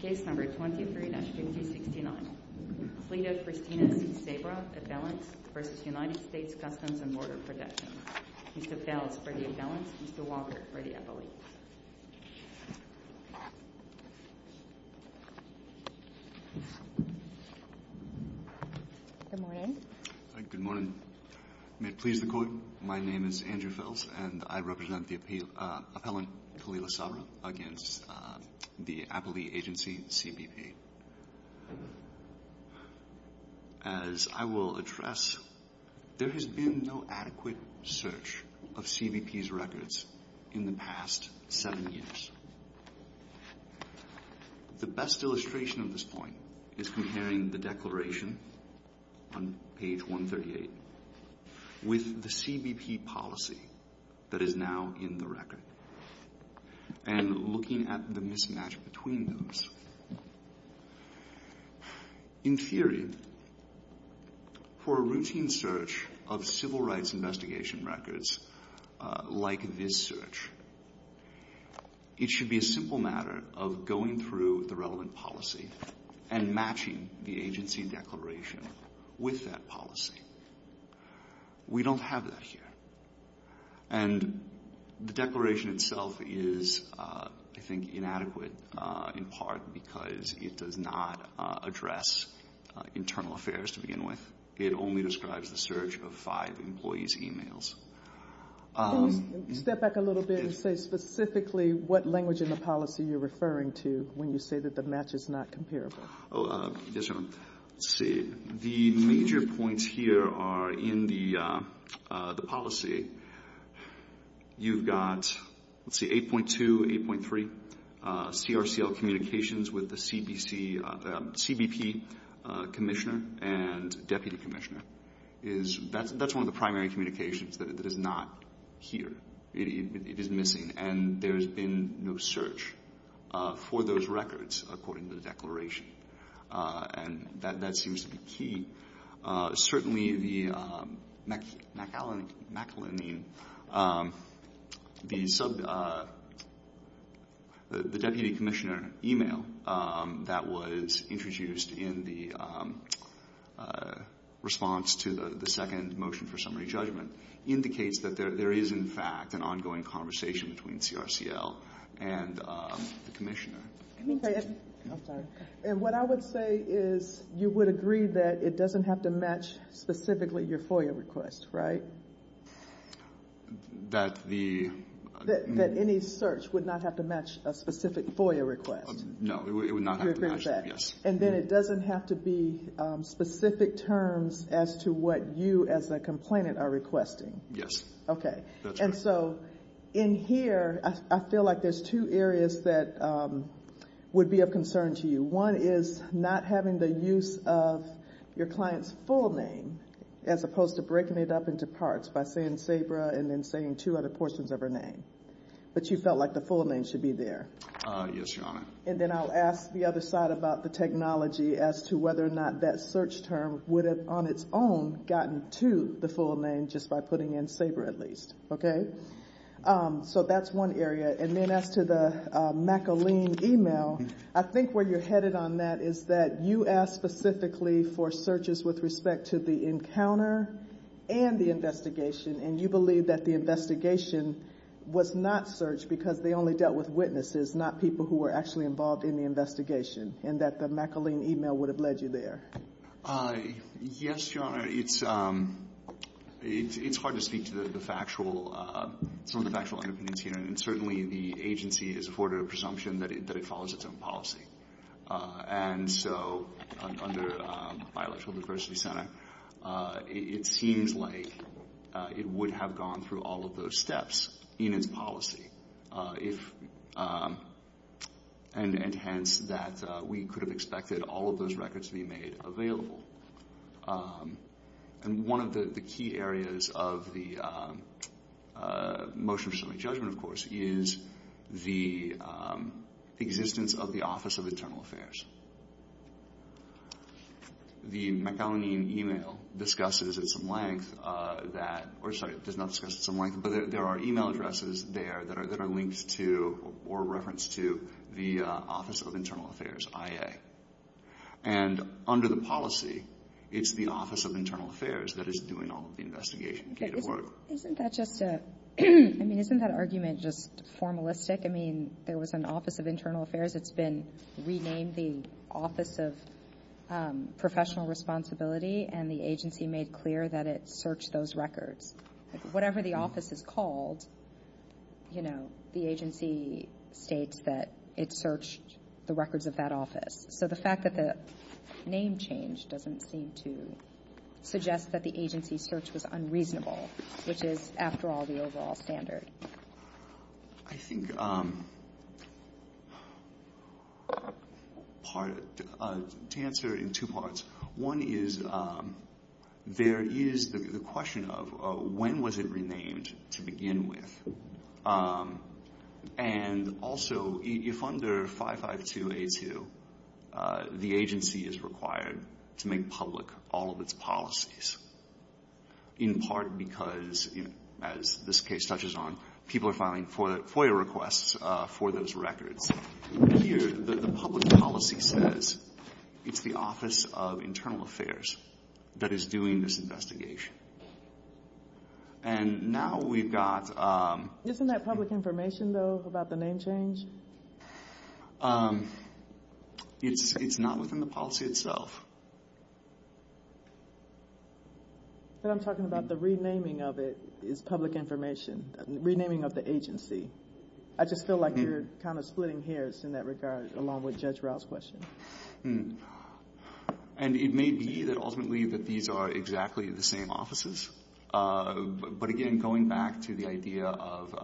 Case number 23-5069 Fleta Christina C. Sabra, Appellant v. United States Customs and Border Protection Mr. Fels for the appellant, Mr. Walker for the appellant Good morning Good morning. May it please the Court, my name is Andrew Fels and I represent the appellant Khalila Sabra against the Appellee Agency CBP As I will address, there has been no adequate search of CBP's records in the past 7 years The best illustration of this point is comparing the declaration on page 138 with the CBP policy that is now in the record and looking at the mismatch between those In theory, for a routine search of civil rights investigation records like this search it should be a simple matter of going through the relevant policy and matching the agency declaration with that policy We don't have that here and the declaration itself is, I think, inadequate in part because it does not address internal affairs to begin with It only describes the search of 5 employees' emails Can you step back a little bit and say specifically what language in the policy you're referring to when you say that the match is not comparable? The major points here are in the policy You've got 8.2, 8.3, CRCL communications with the CBP commissioner and deputy commissioner That's one of the primary communications that is not here It is missing and there has been no search for those records according to the declaration and that seems to be key Certainly, the deputy commissioner email that was introduced in the response to the second motion for summary judgment indicates that there is, in fact, an ongoing conversation between CRCL and the commissioner And what I would say is you would agree that it doesn't have to match specifically your FOIA request, right? That any search would not have to match a specific FOIA request No, it would not have to match that And then it doesn't have to be specific terms as to what you as a complainant are requesting Yes Okay, and so in here I feel like there's two areas that would be of concern to you One is not having the use of your client's full name as opposed to breaking it up into parts by saying Sabra and then saying two other portions of her name But you felt like the full name should be there Yes, Your Honor And then I'll ask the other side about the technology as to whether or not that search term would have on its own gotten to the full name just by putting in Sabra at least, okay? So that's one area And then as to the McAleen email, I think where you're headed on that is that you asked specifically for searches with respect to the encounter and the investigation And you believe that the investigation was not searched because they only dealt with witnesses, not people who were actually involved in the investigation And that the McAleen email would have led you there Yes, Your Honor, it's hard to speak to some of the factual underpinnings here And certainly the agency has afforded a presumption that it follows its own policy And so under my Electoral Diversity Center, it seems like it would have gone through all of those steps in its policy And hence that we could have expected all of those records to be made available And one of the key areas of the motion for summary judgment, of course, is the existence of the Office of Internal Affairs The McAleen email discusses at some length that – or sorry, it does not discuss at some length But there are email addresses there that are linked to or referenced to the Office of Internal Affairs, IA And under the policy, it's the Office of Internal Affairs that is doing all of the investigation Isn't that just a – I mean, isn't that argument just formalistic? I mean, there was an Office of Internal Affairs that's been renamed the Office of Professional Responsibility And the agency made clear that it searched those records Whatever the office is called, you know, the agency states that it searched the records of that office So the fact that the name changed doesn't seem to suggest that the agency's search was unreasonable Which is, after all, the overall standard I think part – to answer in two parts One is there is the question of when was it renamed to begin with? And also, if under 552A2, the agency is required to make public all of its policies In part because, as this case touches on, people are filing FOIA requests for those records Here, the public policy says it's the Office of Internal Affairs that is doing this investigation And now we've got – Isn't that public information, though, about the name change? It's not within the policy itself But I'm talking about the renaming of it is public information Renaming of the agency I just feel like you're kind of splitting hairs in that regard, along with Judge Rao's question And it may be that ultimately that these are exactly the same offices But again, going back to the idea of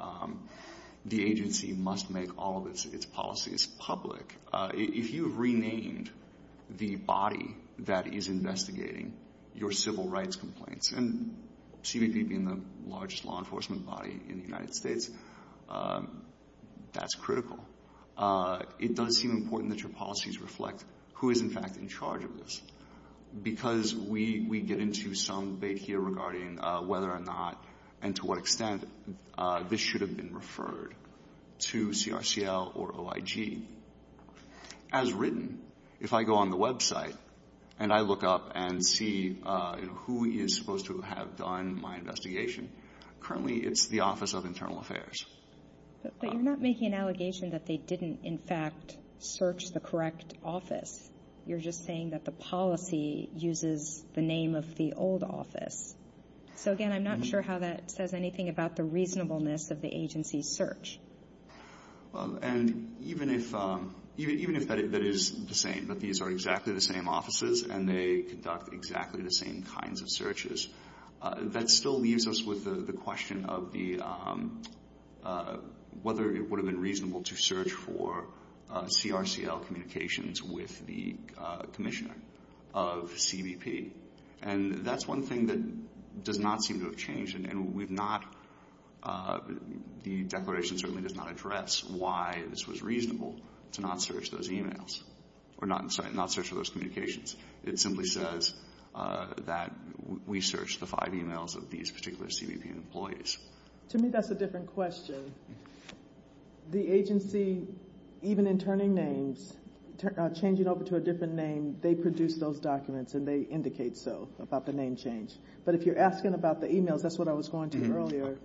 the agency must make all of its policies public If you've renamed the body that is investigating your civil rights complaints And CBP being the largest law enforcement body in the United States, that's critical It does seem important that your policies reflect who is, in fact, in charge of this Because we get into some debate here regarding whether or not and to what extent This should have been referred to CRCL or OIG As written, if I go on the website and I look up and see who is supposed to have done my investigation Currently, it's the Office of Internal Affairs But you're not making an allegation that they didn't, in fact, search the correct office You're just saying that the policy uses the name of the old office So again, I'm not sure how that says anything about the reasonableness of the agency's search And even if that is the same, that these are exactly the same offices And they conduct exactly the same kinds of searches That still leaves us with the question of whether it would have been reasonable To search for CRCL communications with the commissioner of CBP And that's one thing that does not seem to have changed And the declaration certainly does not address why this was reasonable to not search those emails Or not search for those communications It simply says that we searched the five emails of these particular CBP employees To me, that's a different question The agency, even in turning names, changing over to a different name They produce those documents and they indicate so about the name change But if you're asking about the emails, that's what I was going to earlier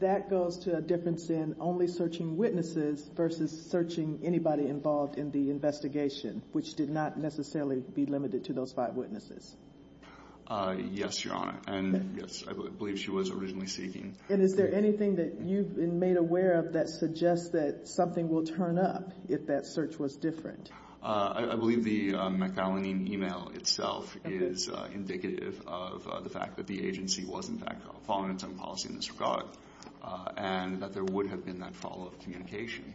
That goes to a difference in only searching witnesses Versus searching anybody involved in the investigation Which did not necessarily be limited to those five witnesses Yes, Your Honor, and yes, I believe she was originally seeking And is there anything that you've been made aware of that suggests that something will turn up If that search was different? I believe the McAllen email itself is indicative of the fact that the agency Was in fact following its own policy in this regard And that there would have been that follow-up communication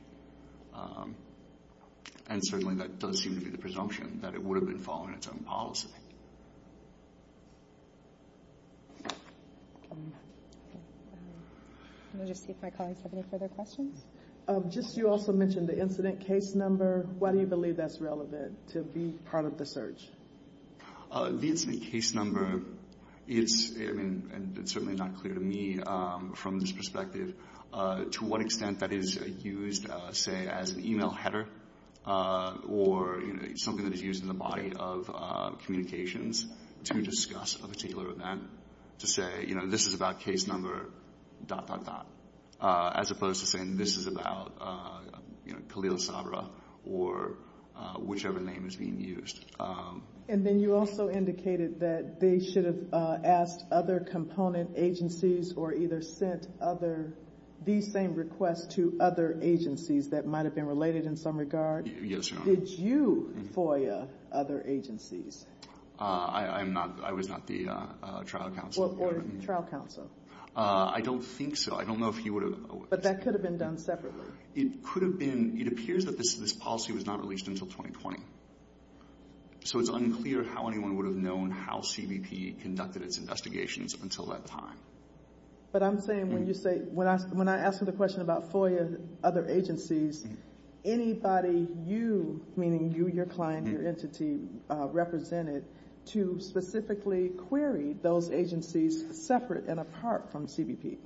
And certainly that does seem to be the presumption That it would have been following its own policy Let me just see if my colleagues have any further questions You also mentioned the incident case number Why do you believe that's relevant to be part of the search? The incident case number, it's certainly not clear to me from this perspective To what extent that is used, say, as an email header Or something that is used in the body of communications To discuss a particular event To say, you know, this is about case number dot dot dot As opposed to saying this is about, you know, Khalil Sabra Or whichever name is being used And then you also indicated that they should have asked other component agencies Or either sent these same requests to other agencies That might have been related in some regard Yes, Your Honor Did you FOIA other agencies? I was not the trial counsel Or trial counsel I don't think so I don't know if he would have But that could have been done separately It could have been It appears that this policy was not released until 2020 So it's unclear how anyone would have known How CBP conducted its investigations until that time But I'm saying when you say When I asked him the question about FOIA other agencies Anybody you, meaning you, your client, your entity To specifically query those agencies separate and apart from CBP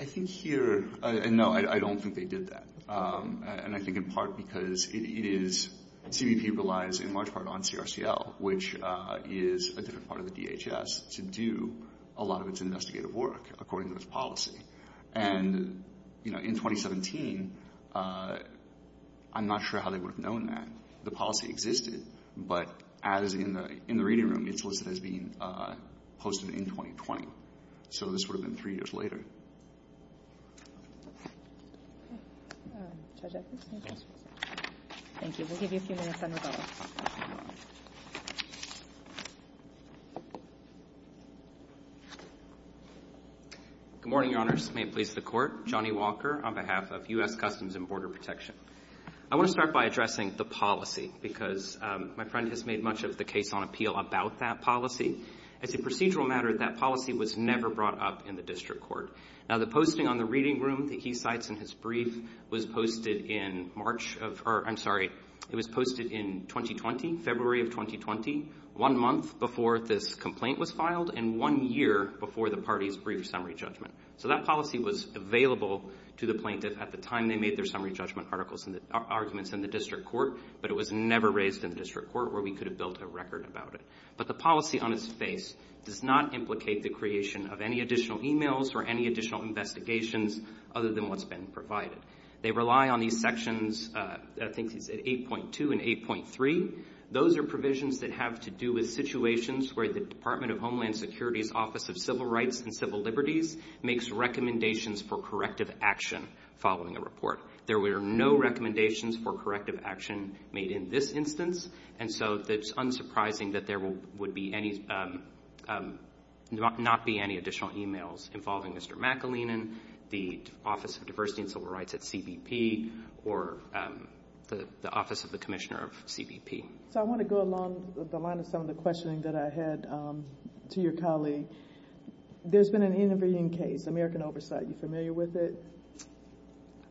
I think here No, I don't think they did that And I think in part because it is CBP relies in large part on CRCL Which is a different part of the DHS To do a lot of its investigative work According to its policy And, you know, in 2017 I'm not sure how they would have known that The policy existed But as in the reading room It's listed as being posted in 2020 So this would have been three years later Good morning, Your Honors May it please the Court Johnny Walker on behalf of U.S. Customs and Border Protection I want to start by addressing the policy Because my friend has made much of the case on appeal about that policy As a procedural matter That policy was never brought up in the District Court Now the posting on the reading room That he cites in his brief Was posted in March of Or, I'm sorry It was posted in 2020 February of 2020 One month before this complaint was filed And one year before the party's brief summary judgment So that policy was available to the plaintiff At the time they made their summary judgment arguments in the District Court But it was never raised in the District Court Where we could have built a record about it But the policy on its face Does not implicate the creation of any additional emails Or any additional investigations Other than what's been provided They rely on these sections I think it's 8.2 and 8.3 Those are provisions that have to do with situations Where the Department of Homeland Security's Office of Civil Rights and Civil Liberties Makes recommendations for corrective action Following a report There were no recommendations for corrective action Made in this instance And so it's unsurprising that there would be any Not be any additional emails Involving Mr. McAleenan The Office of Diversity and Civil Rights at CBP Or the Office of the Commissioner of CBP So I want to go along the line of some of the questioning that I had To your colleague There's been an intervening case, American Oversight Are you familiar with it?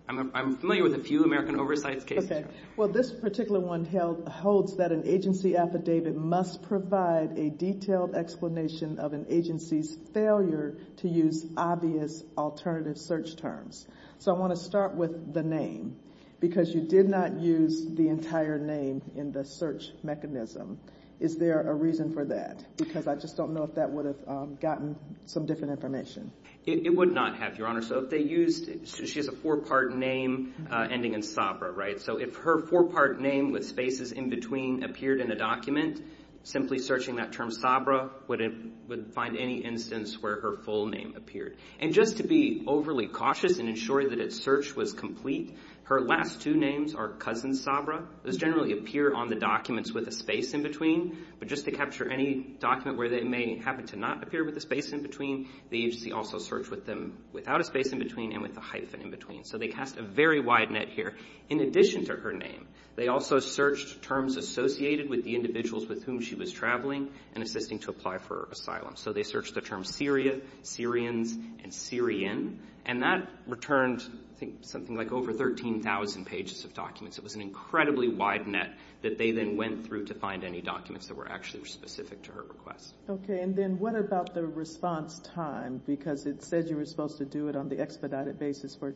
I'm familiar with a few American Oversight cases Well this particular one holds that an agency affidavit Must provide a detailed explanation Of an agency's failure To use obvious alternative search terms So I want to start with the name Because you did not use the entire name In the search mechanism Is there a reason for that? Because I just don't know if that would have gotten Some different information It would not have, your honor So if they used She has a four part name Ending in Sabra, right? So if her four part name with spaces in between Appeared in a document Simply searching that term Sabra Would find any instance where her full name appeared And just to be overly cautious And ensure that its search was complete Her last two names are Cousin Sabra Those generally appear on the documents With a space in between But just to capture any document Where they may happen to not appear With a space in between The agency also searched with them Without a space in between And with a hyphen in between So they cast a very wide net here In addition to her name They also searched terms associated With the individuals with whom she was traveling And assisting to apply for asylum So they searched the terms Syria, Syrians, and Syrian And that returned I think something like over 13,000 pages of documents It was an incredibly wide net That they then went through to find any documents That were actually specific to her request Okay, and then what about the response time? Because it said you were supposed to do it On the expedited basis for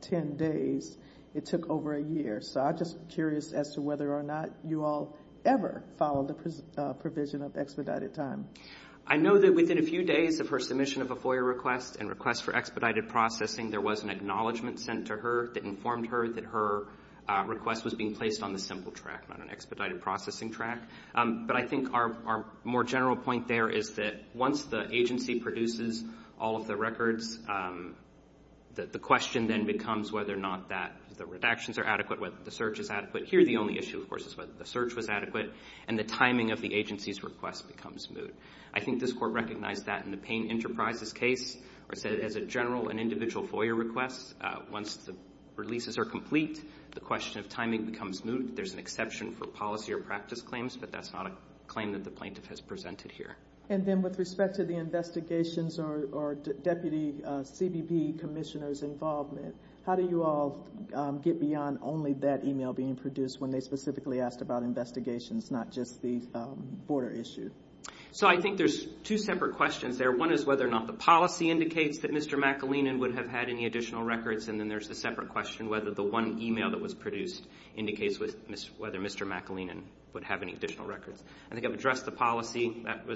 10 days It took over a year So I'm just curious as to whether or not You all ever followed the provision of expedited time I know that within a few days Of her submission of a FOIA request And request for expedited processing There was an acknowledgement sent to her That informed her that her request Was being placed on the simple track Not an expedited processing track But I think our more general point there Is that once the agency produces all of the records The question then becomes whether or not That the redactions are adequate Whether the search is adequate Here the only issue of course Is whether the search was adequate And the timing of the agency's request becomes moot I think this court recognized that In the Payne Enterprises case Or said as a general and individual FOIA request Once the releases are complete The question of timing becomes moot There's an exception for policy or practice claims But that's not a claim That the plaintiff has presented here And then with respect to the investigations Or Deputy CBP Commissioner's involvement How do you all get beyond Only that email being produced When they specifically asked about investigations Not just the border issue So I think there's two separate questions there One is whether or not the policy indicates That Mr. McAleenan would have had any additional records And then there's the separate question Whether the one email that was produced Indicates whether Mr. McAleenan Would have any additional records I think I've addressed the policy That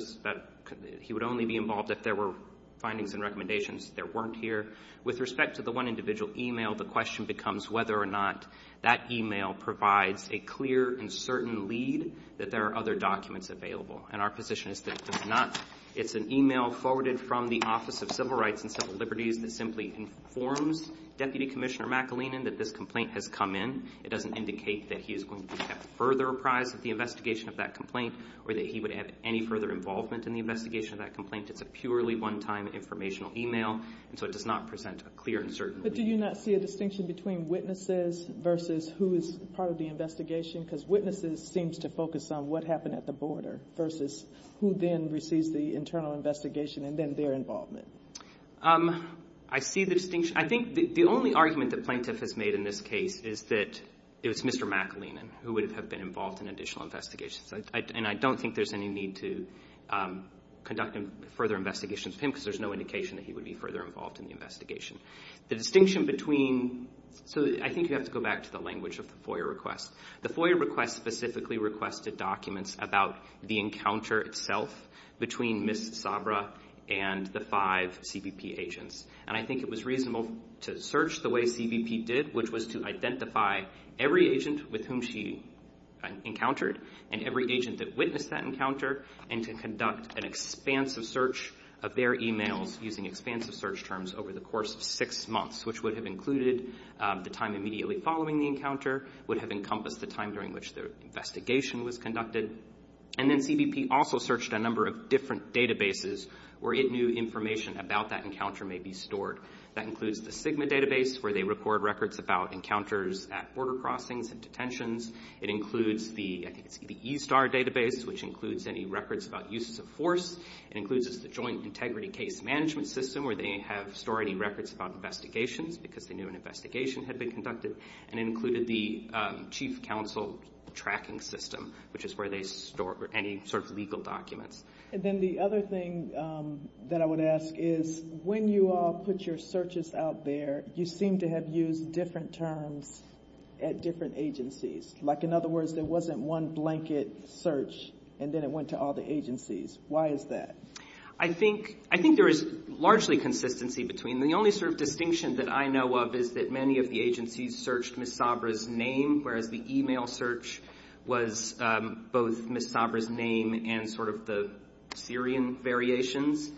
he would only be involved If there were findings and recommendations There weren't here With respect to the one individual email The question becomes whether or not That email provides a clear and certain lead That there are other documents available And our position is that it does not It's an email forwarded from the Office of Civil Rights And Civil Liberties That simply informs Deputy Commissioner McAleenan That this complaint has come in It doesn't indicate that he is going to Be kept further apprised of the investigation Of that complaint Or that he would have any further involvement In the investigation of that complaint It's a purely one-time informational email And so it does not present a clear and certain lead But do you not see a distinction between Witnesses versus who is part of the investigation Because witnesses seems to focus on What happened at the border Versus who then receives the internal investigation And then their involvement I see the distinction I think the only argument That Plaintiff has made in this case Is that it was Mr. McAleenan Who would have been involved In additional investigations And I don't think there's any need to Conduct further investigations with him Because there's no indication That he would be further involved In the investigation The distinction between So I think you have to go back To the language of the FOIA request The FOIA request specifically requested documents About the encounter itself Between Ms. Sabra and the five CBP agents And I think it was reasonable To search the way CBP did Which was to identify Every agent with whom she encountered And every agent that witnessed that encounter And to conduct an expansive search Of their emails Using expansive search terms Over the course of six months Which would have included The time immediately following the encounter Would have encompassed The time during which The investigation was conducted And then CBP also searched A number of different databases Where it knew information About that encounter may be stored That includes the SGMA database Where they record records About encounters at border crossings And detentions It includes the E-STAR database Which includes any records About uses of force It includes the Joint Integrity Case Management System Where they have stored any records About investigations Because they knew an investigation Had been conducted And it included the Chief Counsel tracking system Which is where they store Any sort of legal documents And then the other thing That I would ask is When you all put your searches out there You seem to have used different terms At different agencies Like in other words There wasn't one blanket search And then it went to all the agencies Why is that? I think there is Largely consistency between The only sort of distinction That I know of Is that many of the agencies Searched Ms. Sabra's name Whereas the email search Was both Ms. Sabra's name And sort of the Syrian variations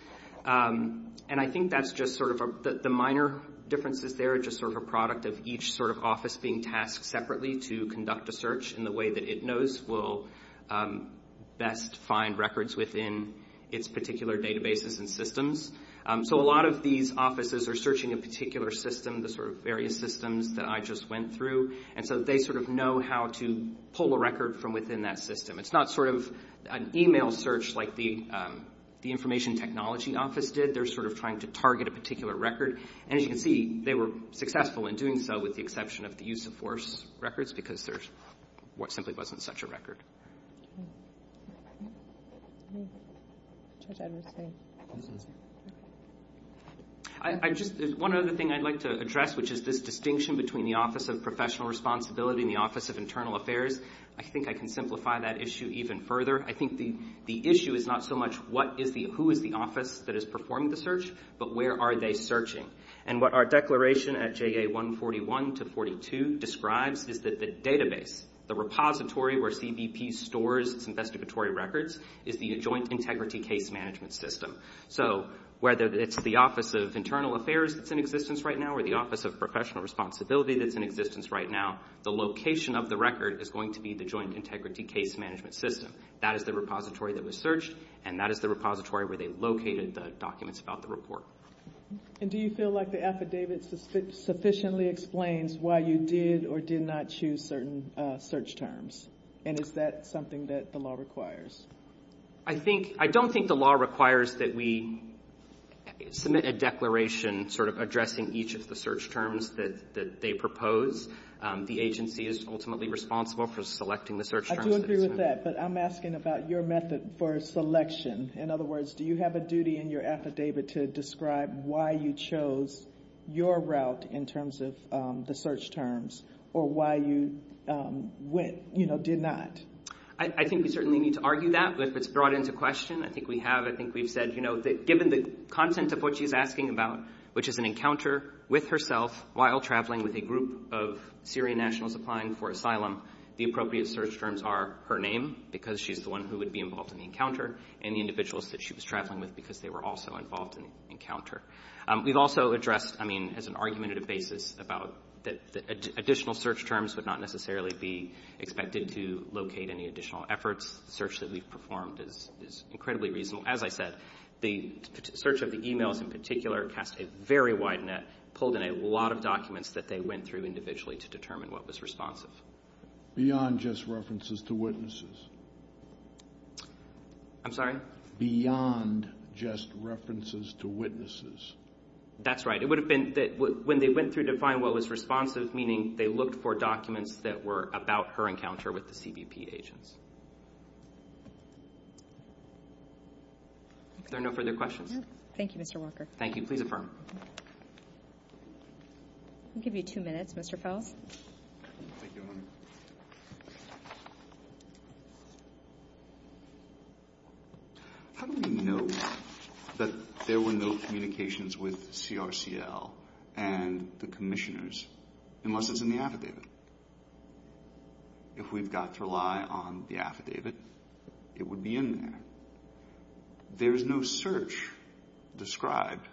And I think that's just sort of The minor differences there Just sort of a product Of each sort of office Being tasked separately To conduct a search In the way that it knows Will best find records Within its particular databases And systems So a lot of these offices Are searching a particular system The sort of various systems That I just went through And so they sort of know How to pull a record From within that system It's not sort of An email search Like the information technology office did They're sort of trying to Target a particular record And as you can see They were successful in doing so With the exception of The use of force records Because there simply wasn't Such a record One other thing I'd like to address Which is this distinction Between the office Of professional responsibility And the office of internal affairs I think I can simplify That issue even further I think the issue Is not so much What is the Who is the office That is performing the search But where are they searching And what our declaration At JA 141 to 42 Describes is that The database The repository Where CBP stores Its investigatory records Is the joint integrity Case management system So whether it's The office of internal affairs That's in existence right now Or the office of Professional responsibility That's in existence right now The location of the record Is going to be The joint integrity Case management system That is the repository That was searched And that is the repository Where they located The documents about the report And do you feel like The affidavit Sufficiently explains Why you did or did not Choose certain search terms And is that something That the law requires I think I don't think the law requires That we submit a declaration Sort of addressing Each of the search terms That they propose The agency is ultimately Responsible for selecting The search terms I do agree with that But I'm asking about Your method for selection In other words Do you have a duty In your affidavit To describe Why you chose Your route In terms of The search terms Or why you Went You know Did not I think we certainly Need to argue that If it's brought into question I think we have I think we've said You know Given the content Of what she's asking about Which is an encounter With herself While traveling With a group of Syrian nationals She's applying for asylum The appropriate search terms Are her name Because she's the one Who would be involved In the encounter And the individuals That she was traveling with Because they were also Involved in the encounter We've also addressed I mean As an argumentative basis About Additional search terms Would not necessarily be Expected to locate Any additional efforts The search that we've performed Is incredibly reasonable As I said The search of the emails In particular Cast a very wide net Pulled in a lot of documents That they went through Individually To determine What was responsible Beyond just references To witnesses I'm sorry Beyond Just references To witnesses That's right It would have been When they went through To find what was responsive Meaning they looked For documents That were about her encounter With the CBP agents Are there no further questions Thank you Mr. Walker Thank you Please affirm I'll give you two minutes Mr. Fels Thank you How do we know That there were no Communications with CRCL And the commissioners Unless it's in the affidavit If we've got to rely On the affidavit It would be in there There's no search Described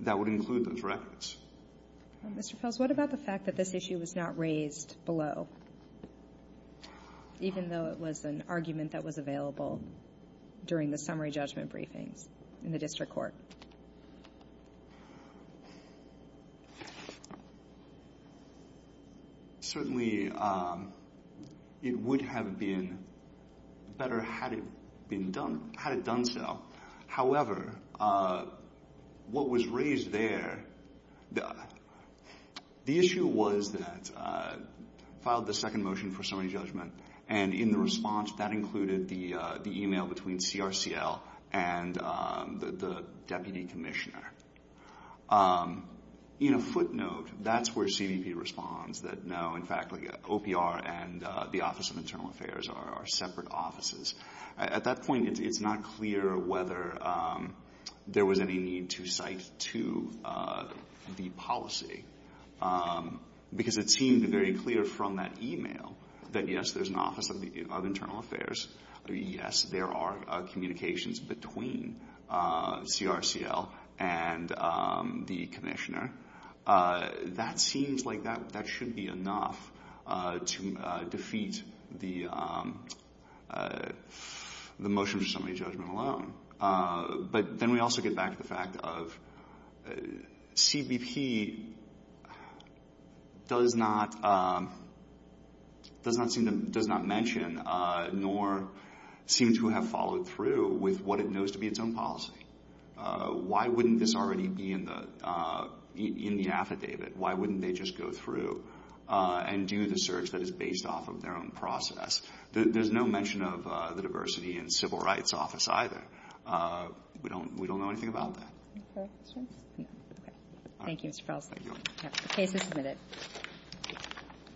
That would include Those records Mr. Fels What about the fact That this issue Was not raised below Even though it was An argument that was available During the summary Judgment briefings In the district court Certainly It would have been Better Had it been done Had it done so However What was raised there The issue was that Filed the second motion For summary judgment And in the response That included the email Between CRCL And the deputy commissioner In a footnote That's where CBP responds That no, in fact OPR and the office Of internal affairs Are separate offices At that point It's not clear Whether there was Any need to cite That to the policy Because it seemed Very clear from that email That yes, there's An office of internal affairs Yes, there are Communications between CRCL And the commissioner That seems like That should be enough To defeat The motion for Summary judgment alone But then we also Get back to the fact Of CBP Does not Does not mention Nor seem to have Followed through With what it knows To be its own policy Why wouldn't this Already be in the Affidavit Why wouldn't they Just go through And do the search That is based off Of their own process There's no mention Of the diversity In civil rights office Either We don't know Anything about that Thank you Mr. Felsen The case is submitted